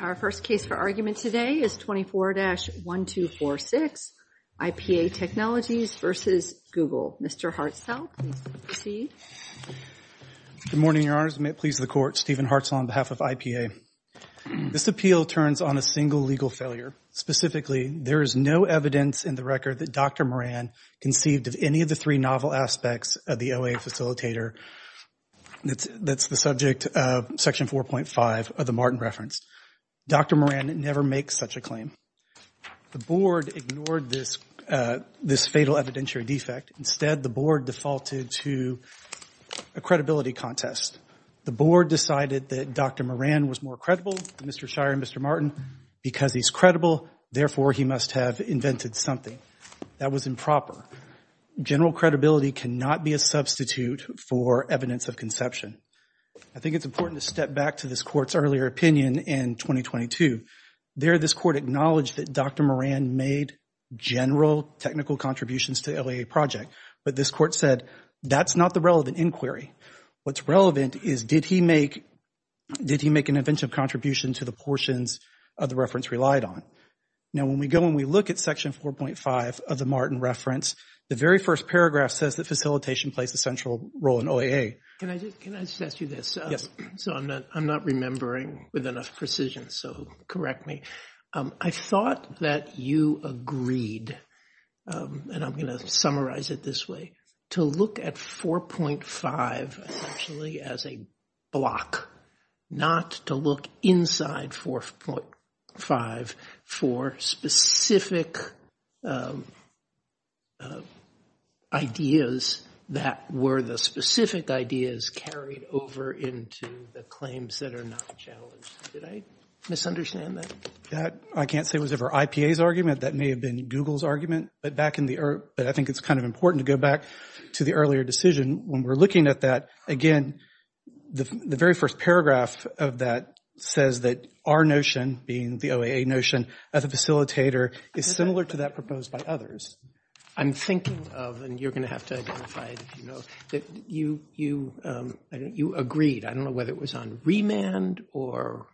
Our first case for argument today is 24-1246, IPA Technologies v. Google. Mr. Hartzell, please proceed. Good morning, Your Honors. May it please the Court, Stephen Hartzell on behalf of IPA. This appeal turns on a single legal failure. Specifically, there is no evidence in the record that Dr. Moran conceived of any of the three novel aspects of the OA facilitator that's the subject of Section 4.5 of the Martin Reference. Dr. Moran never makes such a claim. The Board ignored this fatal evidentiary defect. Instead, the Board defaulted to a credibility contest. The Board decided that Dr. Moran was more credible than Mr. Shirey and Mr. Martin. Because he's credible, therefore, he must have invented something. That was improper. General credibility cannot be a substitute for evidence of conception. I think it's important to step back to this Court's earlier opinion in 2022. There, this Court acknowledged that Dr. Moran made general technical contributions to the LAA project. But this Court said, that's not the relevant inquiry. What's relevant is, did he make an inventive contribution to the portions of the reference relied on? Now, when we go and we look at Section 4.5 of the Martin Reference, the very first paragraph says that facilitation plays a central role in OAA. Can I just ask you this? Yes. So I'm not remembering with enough precision, so correct me. I thought that you agreed, and I'm going to summarize it this way, to look at 4.5 essentially as a block, not to look inside 4.5 for specific ideas that were the specific ideas carried over into the claims that are not challenged. Did I misunderstand that? I can't say it was ever IPA's argument. That may have been Google's argument. But I think it's kind of important to go back to the earlier decision. When we're looking at that, again, the very first paragraph of that says that our notion, being the OAA notion, as a facilitator is similar to that proposed by others. I'm thinking of, and you're going to have to identify it if you know, that you agreed, I don't know whether it was on remand, or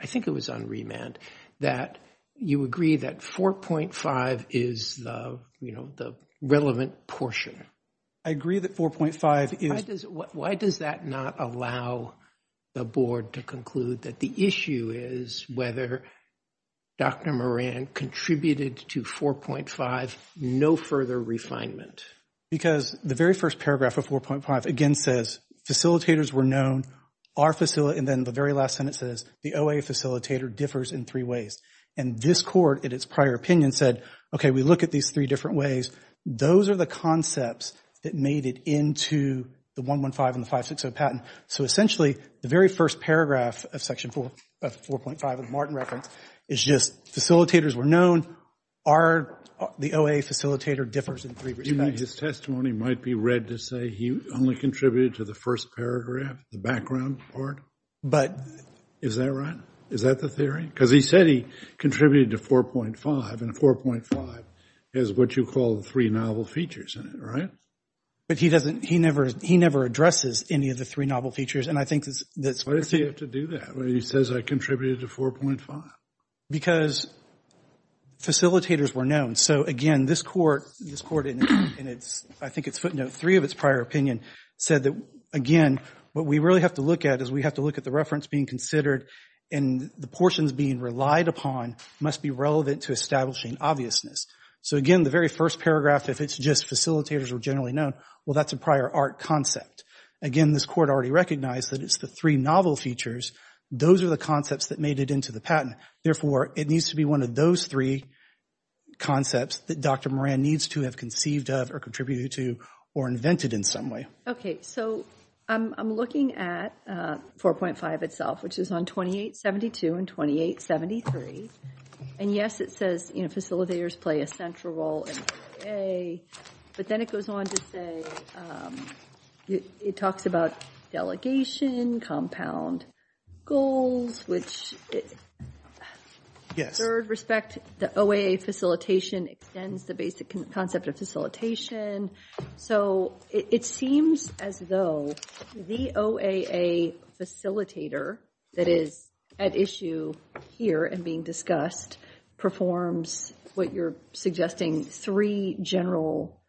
I think it was on remand, that you agree that 4.5 is the relevant portion. I agree that 4.5 is. Why does that not allow the board to conclude that the issue is whether Dr. Moran contributed to 4.5, no further refinement? Because the very first paragraph of 4.5, again, says facilitators were known, and then the very last sentence says the OAA facilitator differs in three ways. And this court, in its prior opinion, said, okay, we look at these three different ways. Those are the concepts that made it into the 115 and the 560 patent. So essentially, the very first paragraph of section 4.5 of the Martin reference is just facilitators were known. The OAA facilitator differs in three respects. His testimony might be read to say he only contributed to the first paragraph, the background part. Is that right? Is that the theory? Because he said he contributed to 4.5, and 4.5 is what you call the three novel features in it, right? But he never addresses any of the three novel features, and I think that's— Why does he have to do that when he says I contributed to 4.5? Because facilitators were known. So again, this court, in its, I think it's footnote three of its prior opinion, said that, again, what we really have to look at is we have to look at the reference being considered, and the portions being relied upon must be relevant to establishing obviousness. So again, the very first paragraph, if it's just facilitators were generally known, well, that's a prior art concept. Again, this court already recognized that it's the three novel features. Those are the concepts that made it into the patent. Therefore, it needs to be one of those three concepts that Dr. Moran needs to have conceived of or contributed to or invented in some way. Okay, so I'm looking at 4.5 itself, which is on 2872 and 2873, and yes, it says, you know, facilitators play a central role in OAA, but then it goes on to say, it talks about delegation, compound goals, which, in third respect, the OAA facilitation extends the basic concept of facilitation. So it seems as though the OAA facilitator that is at issue here and being discussed performs what you're suggesting, three general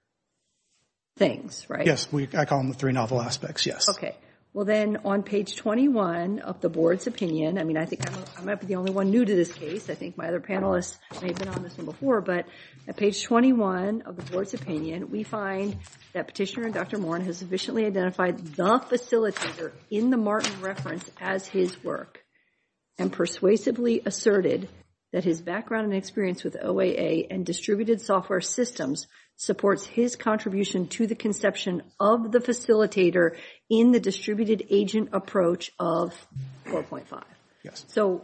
things, right? Yes, I call them the three novel aspects, yes. Okay, well then on page 21 of the board's opinion, I mean, I think I might be the only one new to this case. I think my other panelists may have been on this one before, but at page 21 of the board's opinion, we find that Petitioner Dr. Moran has sufficiently identified the facilitator in the Martin reference as his work and persuasively asserted that his background and experience with OAA and distributed software systems supports his contribution to the conception of the facilitator in the distributed agent approach of 4.5. So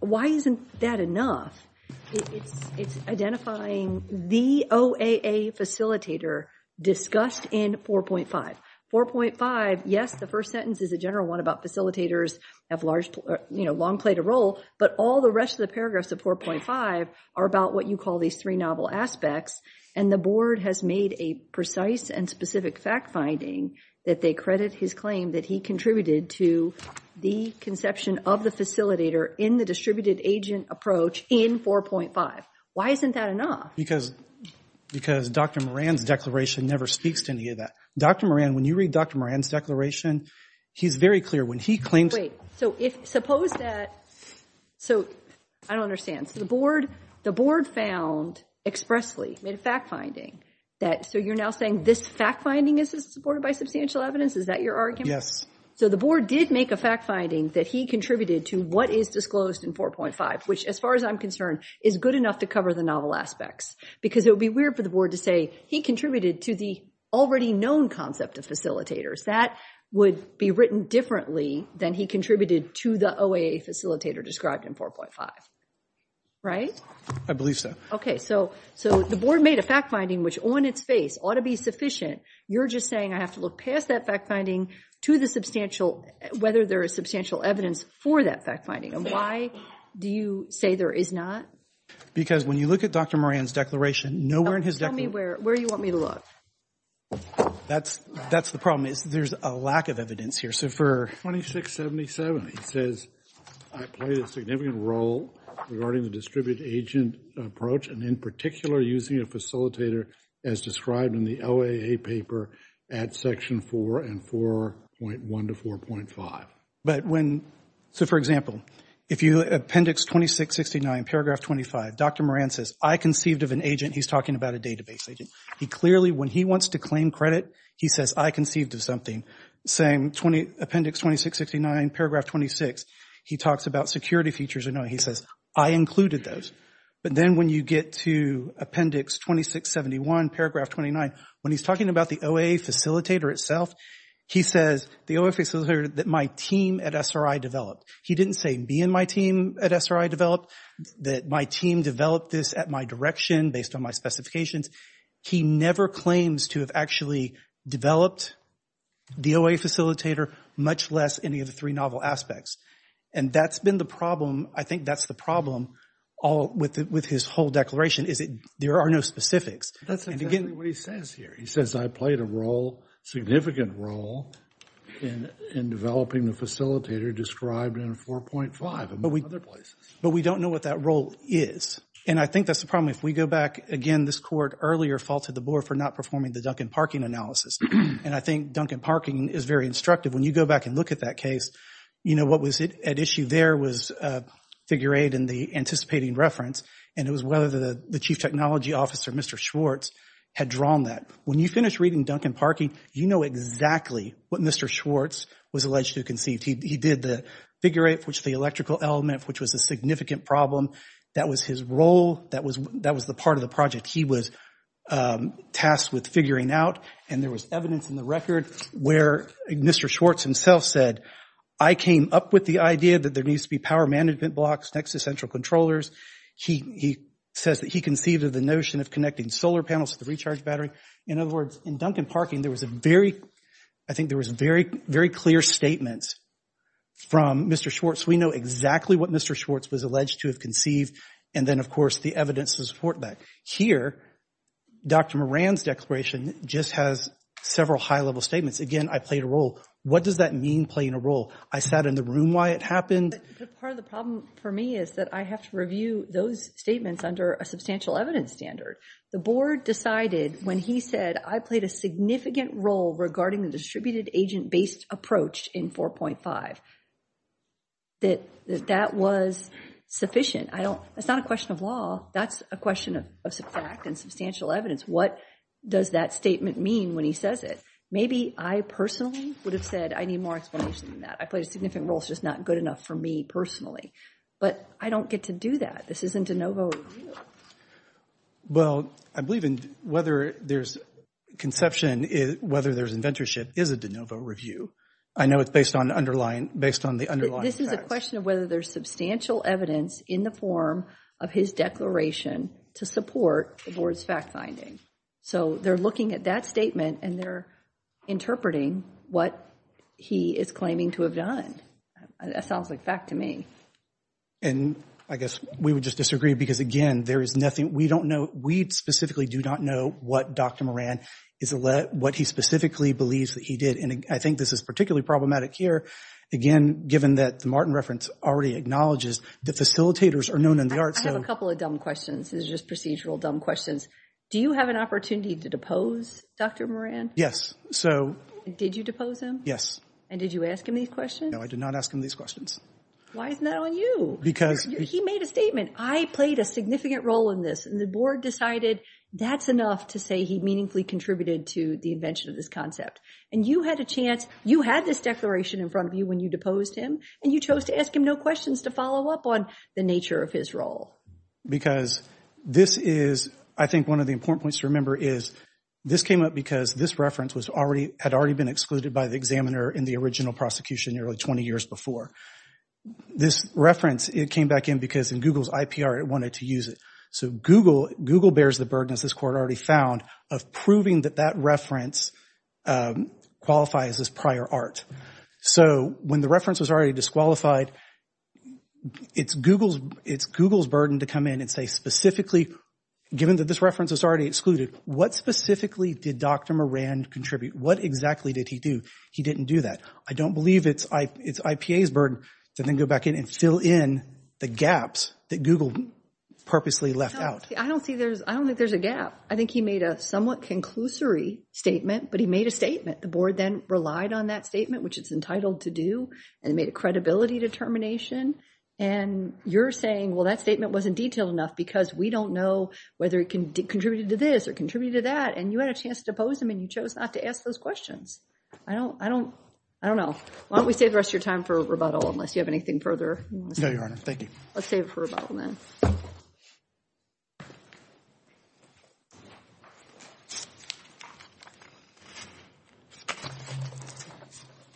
why isn't that enough? It's identifying the OAA facilitator discussed in 4.5. 4.5, yes, the first sentence is a general one about facilitators have long played a role, but all the rest of the paragraphs of 4.5 are about what you call these three novel aspects, and the board has made a precise and specific fact finding that they credit his claim that he contributed to the conception of the facilitator in the distributed agent approach in 4.5. Why isn't that enough? Because Dr. Moran's declaration never speaks to any of that. Dr. Moran, when you read Dr. Moran's declaration, he's very clear when he claims— Wait, so if, suppose that, so I don't understand, so the board found expressly, made a fact finding that, so you're now saying this fact finding is supported by substantial evidence, is that your argument? Yes. So the board did make a fact finding that he contributed to what is disclosed in 4.5, which, as far as I'm concerned, is good enough to cover the novel aspects, because it would be weird for the board to say he contributed to the already known concept of facilitators. That would be written differently than he contributed to the OAA facilitator described in 4.5, right? I believe so. Okay, so the board made a fact finding which, on its face, ought to be sufficient. You're just saying I have to look past that fact finding to the substantial, whether there is substantial evidence for that fact finding, and why do you say there is not? Because when you look at Dr. Moran's declaration, nowhere in his declaration— Tell me where you want me to look. That's the problem, is there's a lack of evidence here. So for 2677, he says, I played a significant role regarding the distributed agent approach, and in particular using a facilitator as described in the OAA paper at Section 4 and 4.1 to 4.5. But when—so for example, if you look at Appendix 2669, Paragraph 25, Dr. Moran says, I conceived of an agent, he's talking about a database agent. He clearly, when he wants to claim credit, he says, I conceived of something. Appendix 2669, Paragraph 26, he talks about security features, and he says, I included those. But then when you get to Appendix 2671, Paragraph 29, when he's talking about the OAA facilitator itself, he says, the OAA facilitator that my team at SRI developed. He didn't say, be in my team at SRI developed, that my team developed this at my direction based on my specifications. He never claims to have actually developed the OAA facilitator, much less any of the three novel aspects. And that's been the problem. I think that's the problem with his whole declaration, is that there are no specifics. That's exactly what he says here. He says, I played a role, significant role, in developing the facilitator described in 4.5 and other places. But we don't know what that role is. And I think that's the problem. If we go back, again, this court earlier faulted the board for not performing the Duncan Parking analysis. And I think Duncan Parking is very instructive. When you go back and look at that case, you know, what was at issue there was Figure 8 and the anticipating reference. And it was whether the Chief Technology Officer, Mr. Schwartz, had drawn that. When you finish reading Duncan Parking, you know exactly what Mr. Schwartz was alleged to have conceived. He did the Figure 8, which the electrical element, which was a significant problem. That was his role. That was the part of the project he was tasked with figuring out. And there was evidence in the record where Mr. Schwartz himself said, I came up with the idea that there needs to be power management blocks next to central controllers. He says that he conceived of the notion of connecting solar panels to the recharge battery. In other words, in Duncan Parking, there was a very, I think there was very, very clear statements from Mr. Schwartz. We know exactly what Mr. Schwartz was alleged to have conceived. And then, of course, the evidence to support that. Here, Dr. Moran's declaration just has several high-level statements. Again, I played a role. What does that mean, playing a role? I sat in the room while it happened. But part of the problem for me is that I have to review those statements under a substantial evidence standard. The board decided when he said, I played a significant role regarding the distributed agent-based approach in 4.5, that that was sufficient. I don't, it's not a question of law. That's a question of fact and substantial evidence. What does that statement mean when he says it? Maybe I personally would have said, I need more explanation than that. I played a significant role. It's just not good enough for me personally. But I don't get to do that. This isn't a no-go. Well, I believe in whether there's conception, whether there's inventorship is a de novo review. I know it's based on underlying, based on the underlying facts. This is a question of whether there's substantial evidence in the form of his declaration to support the board's fact-finding. So they're looking at that statement and they're interpreting what he is claiming to have done. That sounds like fact to me. And I guess we would just disagree because, again, there is nothing, we don't know, we specifically do not know what Dr. Moran is, what he specifically believes that he did. And I think this is particularly problematic here, again, given that the Martin reference already acknowledges that facilitators are known in the arts. I have a couple of dumb questions. These are just procedural dumb questions. Do you have an opportunity to depose Dr. Moran? Yes. So did you depose him? Yes. And did you ask him these questions? No, I did not ask him these questions. Why isn't that on you? Because— He made a statement, I played a significant role in this, and the board decided that's enough to say he meaningfully contributed to the invention of this concept. And you had a chance, you had this declaration in front of you when you deposed him, and you chose to ask him no questions to follow up on the nature of his role. Because this is, I think one of the important points to remember is, this came up because this reference was already, had already been excluded by the examiner in the original this reference. It came back in because in Google's IPR, it wanted to use it. So Google bears the burden, as this court already found, of proving that that reference qualifies as prior art. So when the reference was already disqualified, it's Google's burden to come in and say specifically, given that this reference was already excluded, what specifically did Dr. Moran contribute? What exactly did he do? He didn't do that. I don't believe it's IPA's burden to then go back in and fill in the gaps that Google purposely left out. I don't think there's a gap. I think he made a somewhat conclusory statement, but he made a statement. The board then relied on that statement, which it's entitled to do, and made a credibility determination. And you're saying, well, that statement wasn't detailed enough because we don't know whether it contributed to this or contributed to that. And you had a chance to depose him, and you chose not to ask those questions. I don't, I don't, I don't know. Why don't we save the rest of your time for rebuttal, unless you have anything further? No, Your Honor. Thank you. Let's save it for rebuttal, then.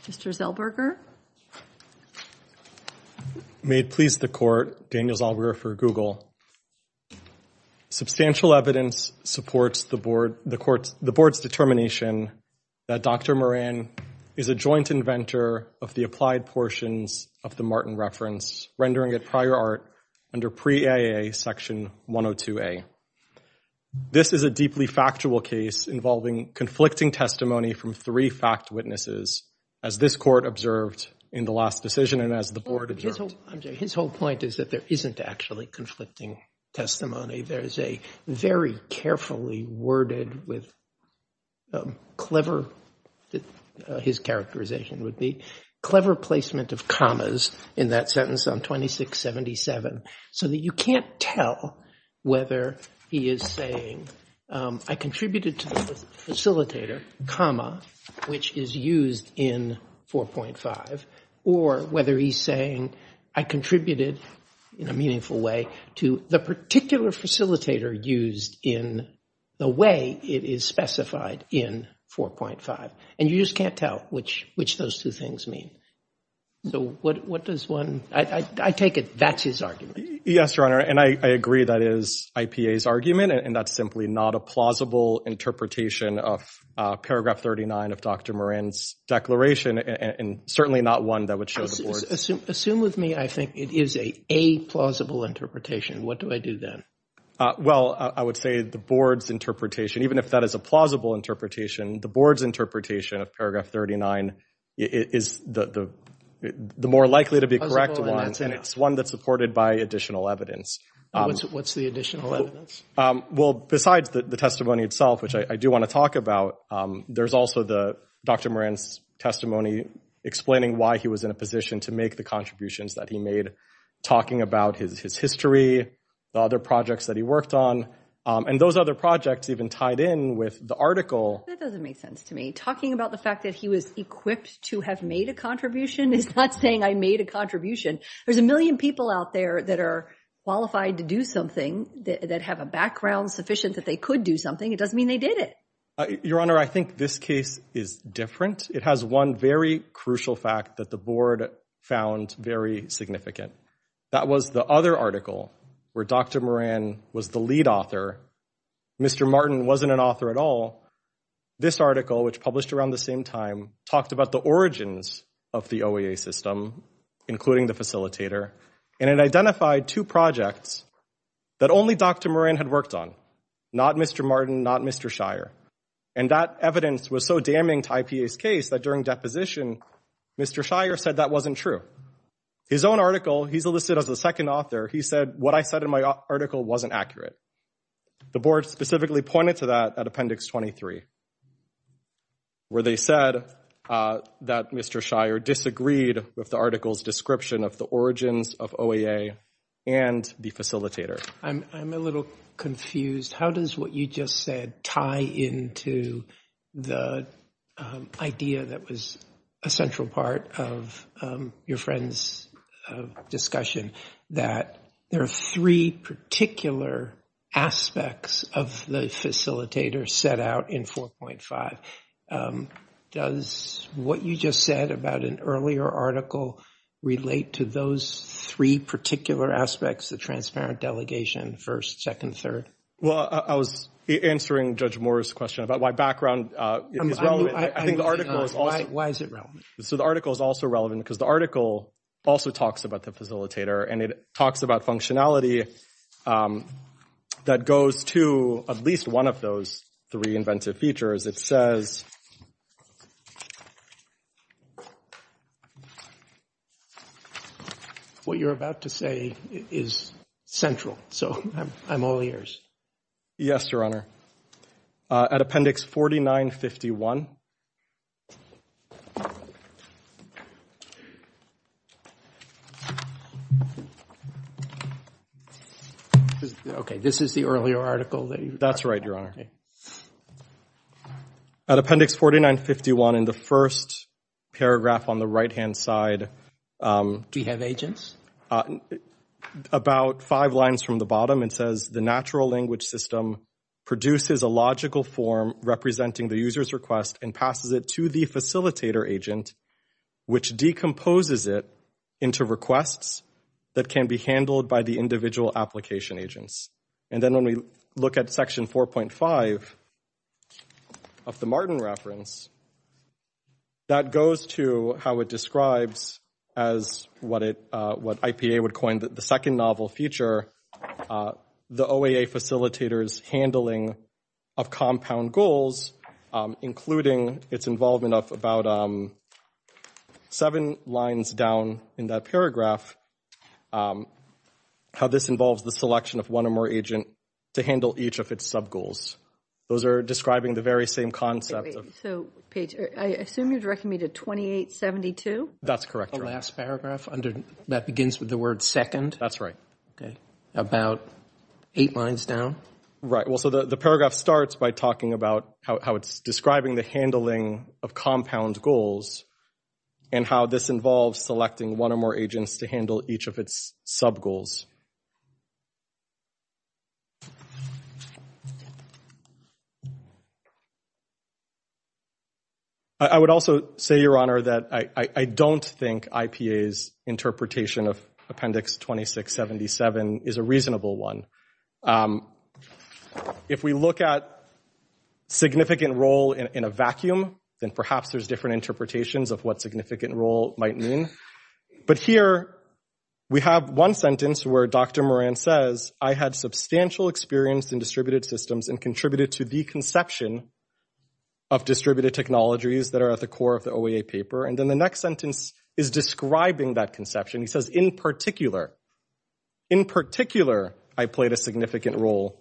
Mr. Zellberger. May it please the court, Daniel Zellberger for Google. Substantial evidence supports the board, the court's, the board's determination that Dr. Moran is a joint inventor of the applied portions of the Martin reference, rendering it prior art under Pre-AA Section 102A. This is a deeply factual case involving conflicting testimony from three fact witnesses, as this court observed in the last decision and as the board observed. His whole point is that there isn't actually conflicting testimony. There is a very carefully worded with clever, his characterization would be, clever placement of commas in that sentence on 2677, so that you can't tell whether he is saying, I contributed to the facilitator, comma, which is used in 4.5, or whether he's saying, I contributed in a meaningful way to the particular facilitator used in the way it is specified in 4.5. And you just can't tell which, which those two things mean. So what, what does one, I take it that's his argument? Yes, Your Honor. And I agree that is IPA's argument, and that's simply not a plausible interpretation of Paragraph 39 of Dr. Moran's declaration, and certainly not one that would show the board. Assume with me, I think it is a plausible interpretation. What do I do then? Well, I would say the board's interpretation, even if that is a plausible interpretation, the board's interpretation of Paragraph 39 is the more likely to be correct, and it's one that's supported by additional evidence. What's the additional evidence? Well, besides the testimony itself, which I do want to talk about, there's also the Dr. Moran's testimony explaining why he was in a position to make the contributions that he made, talking about his history, the other projects that he worked on, and those other projects even tied in with the article. That doesn't make sense to me. Talking about the fact that he was equipped to have made a contribution is not saying I made a contribution. There's a million people out there that are qualified to do something, that have a background sufficient that they could do something. It doesn't mean they did it. Your Honor, I think this case is different. It has one very crucial fact that the board found very significant. That was the other article where Dr. Moran was the lead author. Mr. Martin wasn't an author at all. This article, which published around the same time, talked about the origins of the facilitator, and it identified two projects that only Dr. Moran had worked on, not Mr. Martin, not Mr. Shire. And that evidence was so damning to IPA's case that during deposition, Mr. Shire said that wasn't true. His own article, he's listed as the second author, he said, what I said in my article wasn't accurate. The board specifically pointed to that at Appendix 23, where they said that Mr. Shire disagreed with the article's description of the origins of OEA and the facilitator. I'm a little confused. How does what you just said tie into the idea that was a central part of your friend's discussion, that there are three particular aspects of the facilitator set out in 4.5? Does what you just said about an earlier article relate to those three particular aspects, the transparent delegation, first, second, third? Well, I was answering Judge Moore's question about why background is relevant. I think the article is also— Why is it relevant? So the article is also relevant because the article also talks about the facilitator, and it talks about functionality that goes to at least one of those three inventive features. It says— What you're about to say is central. So I'm all ears. Yes, Your Honor. At Appendix 4951. Okay, this is the earlier article that you— That's right, Your Honor. At Appendix 4951 in the first paragraph on the right-hand side— Do we have agents? About five lines from the bottom, it says, the natural language system produces a logical form representing the user's request and passes it to the facilitator agent, which decomposes it into requests that can be handled by the individual application agents. And then when we look at Section 4.5 of the Martin reference, that goes to how it describes as what IPA would coin the second novel feature, the OAA facilitator's handling of compound goals, including its involvement of about seven lines down in that paragraph, how this involves the selection of one or more agent to handle each of its sub-goals. Those are describing the very same concept of— So, Paige, I assume you're directing me to 2872? That's correct, Your Honor. The last paragraph under—that begins with the word second? That's right. Okay. About eight lines down? Right. Well, so the paragraph starts by talking about how it's describing the handling of compound goals and how this involves selecting one or more agents to handle each of its sub-goals. I would also say, Your Honor, that I don't think IPA's interpretation of Appendix 2677 is a reasonable one. If we look at significant role in a vacuum, then perhaps there's different interpretations of what significant role might mean. But here, we have one sentence where Dr. Moran says, I had substantial experience in distributed systems and contributed to the conception of distributed technologies that are at the core of the OAA paper. And then the next sentence is describing that conception. He says, in particular. In particular, I played a significant role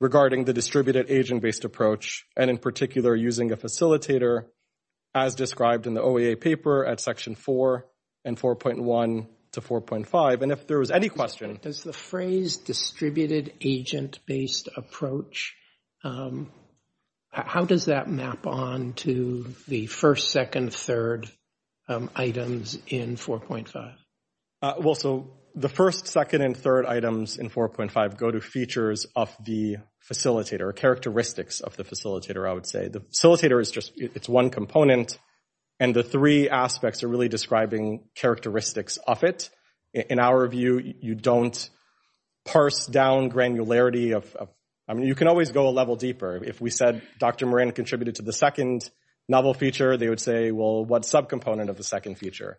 regarding the distributed agent-based approach, and in particular, using a facilitator as described in the OAA paper at section 4 and 4.1 to 4.5. And if there was any question— Does the phrase distributed agent-based approach, how does that map on to the first, second, third items in 4.5? Well, so the first, second, and third items in 4.5 go to features of the facilitator, characteristics of the facilitator, I would say. The facilitator is just one component, and the three aspects are really describing characteristics of it. In our view, you don't parse down granularity. I mean, you can always go a level deeper. If we said Dr. Moran contributed to the second novel feature, they would say, well, what subcomponent of the second feature?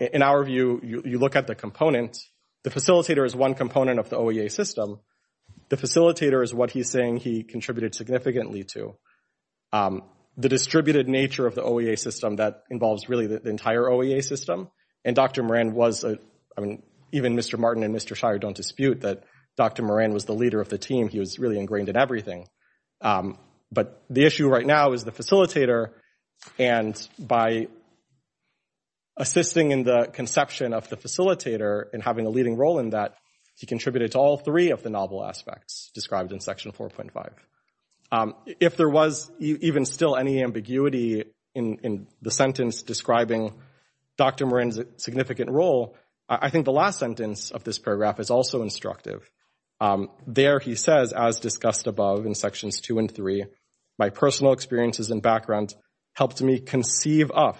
In our view, you look at the components. The facilitator is one component of the OEA system. The facilitator is what he's saying he contributed significantly to. The distributed nature of the OEA system, that involves really the entire OEA system. And Dr. Moran was—I mean, even Mr. Martin and Mr. Shire don't dispute that Dr. Moran was the leader of the team. He was really ingrained in everything. But the issue right now is the facilitator. And by assisting in the conception of the facilitator and having a leading role in that, he contributed to all three of the novel aspects described in Section 4.5. If there was even still any ambiguity in the sentence describing Dr. Moran's significant role, I think the last sentence of this paragraph is also instructive. There he says, as discussed above in Sections 2 and 3, my personal experiences and background helped me conceive of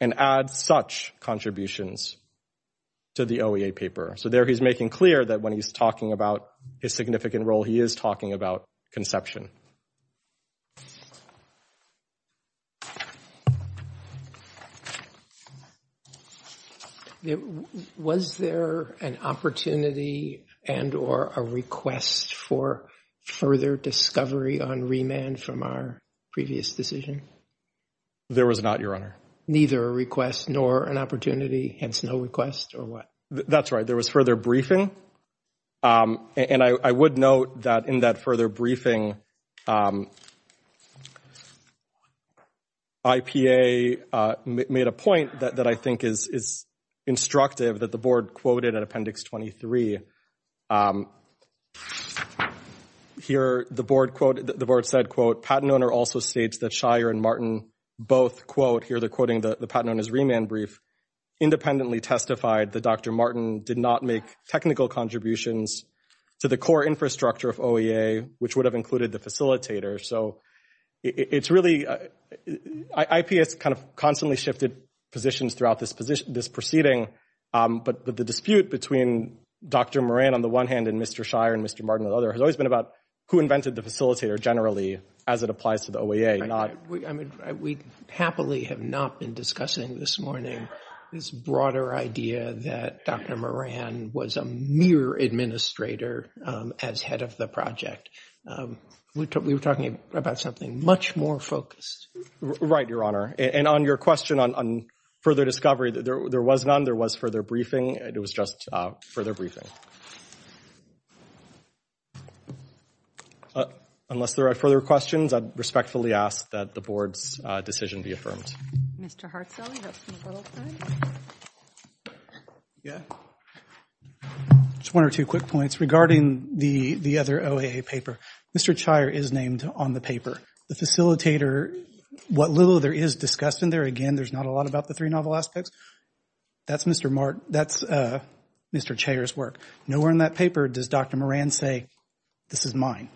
and add such contributions to the OEA paper. So there he's making clear that when he's talking about his significant role, he is talking about conception. Was there an opportunity and or a request for further discovery on remand from our previous decision? There was not, Your Honor. Neither a request nor an opportunity, hence no request or what? That's right. There was further briefing. And I would note that in that further briefing, IPA made a point that I think is instructive that the Board quoted in Appendix 23. Here, the Board said, quote, patent owner also states that Shire and Martin both, quote, here they're quoting the patent owner's remand brief, independently testified that Dr. Martin did not make technical contributions to the core infrastructure of OEA, which would have included the facilitator. So it's really, IPA has kind of constantly shifted positions throughout this proceeding. But the dispute between Dr. Moran on the one hand and Mr. Shire and Mr. Martin on the other has always been about who invented the facilitator, generally, as it applies to the OEA. We happily have not been discussing this morning this broader idea that Dr. Moran was a mere administrator as head of the project. We were talking about something much more focused. Right, Your Honor. And on your question on further discovery, there was none. There was further briefing. It was just further briefing. Unless there are further questions, I respectfully ask that the Board's decision be affirmed. Mr. Hartzell, do you have some further questions? Yeah. Just one or two quick points regarding the other OEA paper. Mr. Shire is named on the paper. The facilitator, what little there is discussed in there, again, there's not a lot about the three novel aspects. That's Mr. Martin, that's Mr. Shire's work. Nowhere in that paper does Dr. Moran say, this is mine.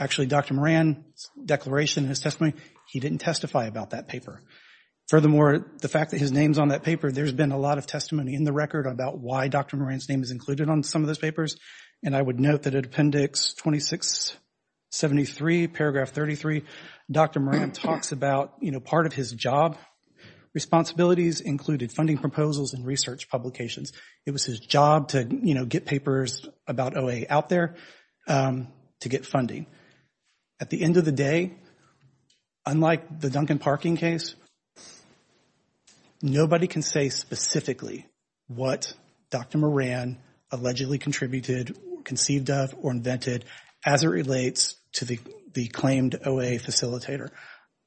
Actually, Dr. Moran's declaration in his testimony, he didn't testify about that paper. Furthermore, the fact that his name's on that paper, there's been a lot of testimony in the record about why Dr. Moran's name is included on some of those papers. And I would note that at Appendix 2673, Paragraph 33, Dr. Moran talks about, you know, part of his job responsibilities included funding proposals and research publications. It was his job to, you know, get papers about OEA out there to get funding. At the end of the day, unlike the Duncan Parking case, nobody can say specifically what Dr. Moran allegedly contributed, conceived of, or invented as it relates to the claimed OEA facilitator.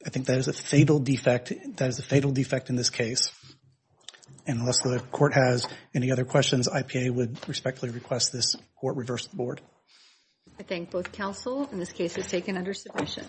I think that is a fatal defect. That is a fatal defect in this case. And unless the court has any other questions, IPA would respectfully request this court reverse the board. I thank both counsel. And this case is taken under submission.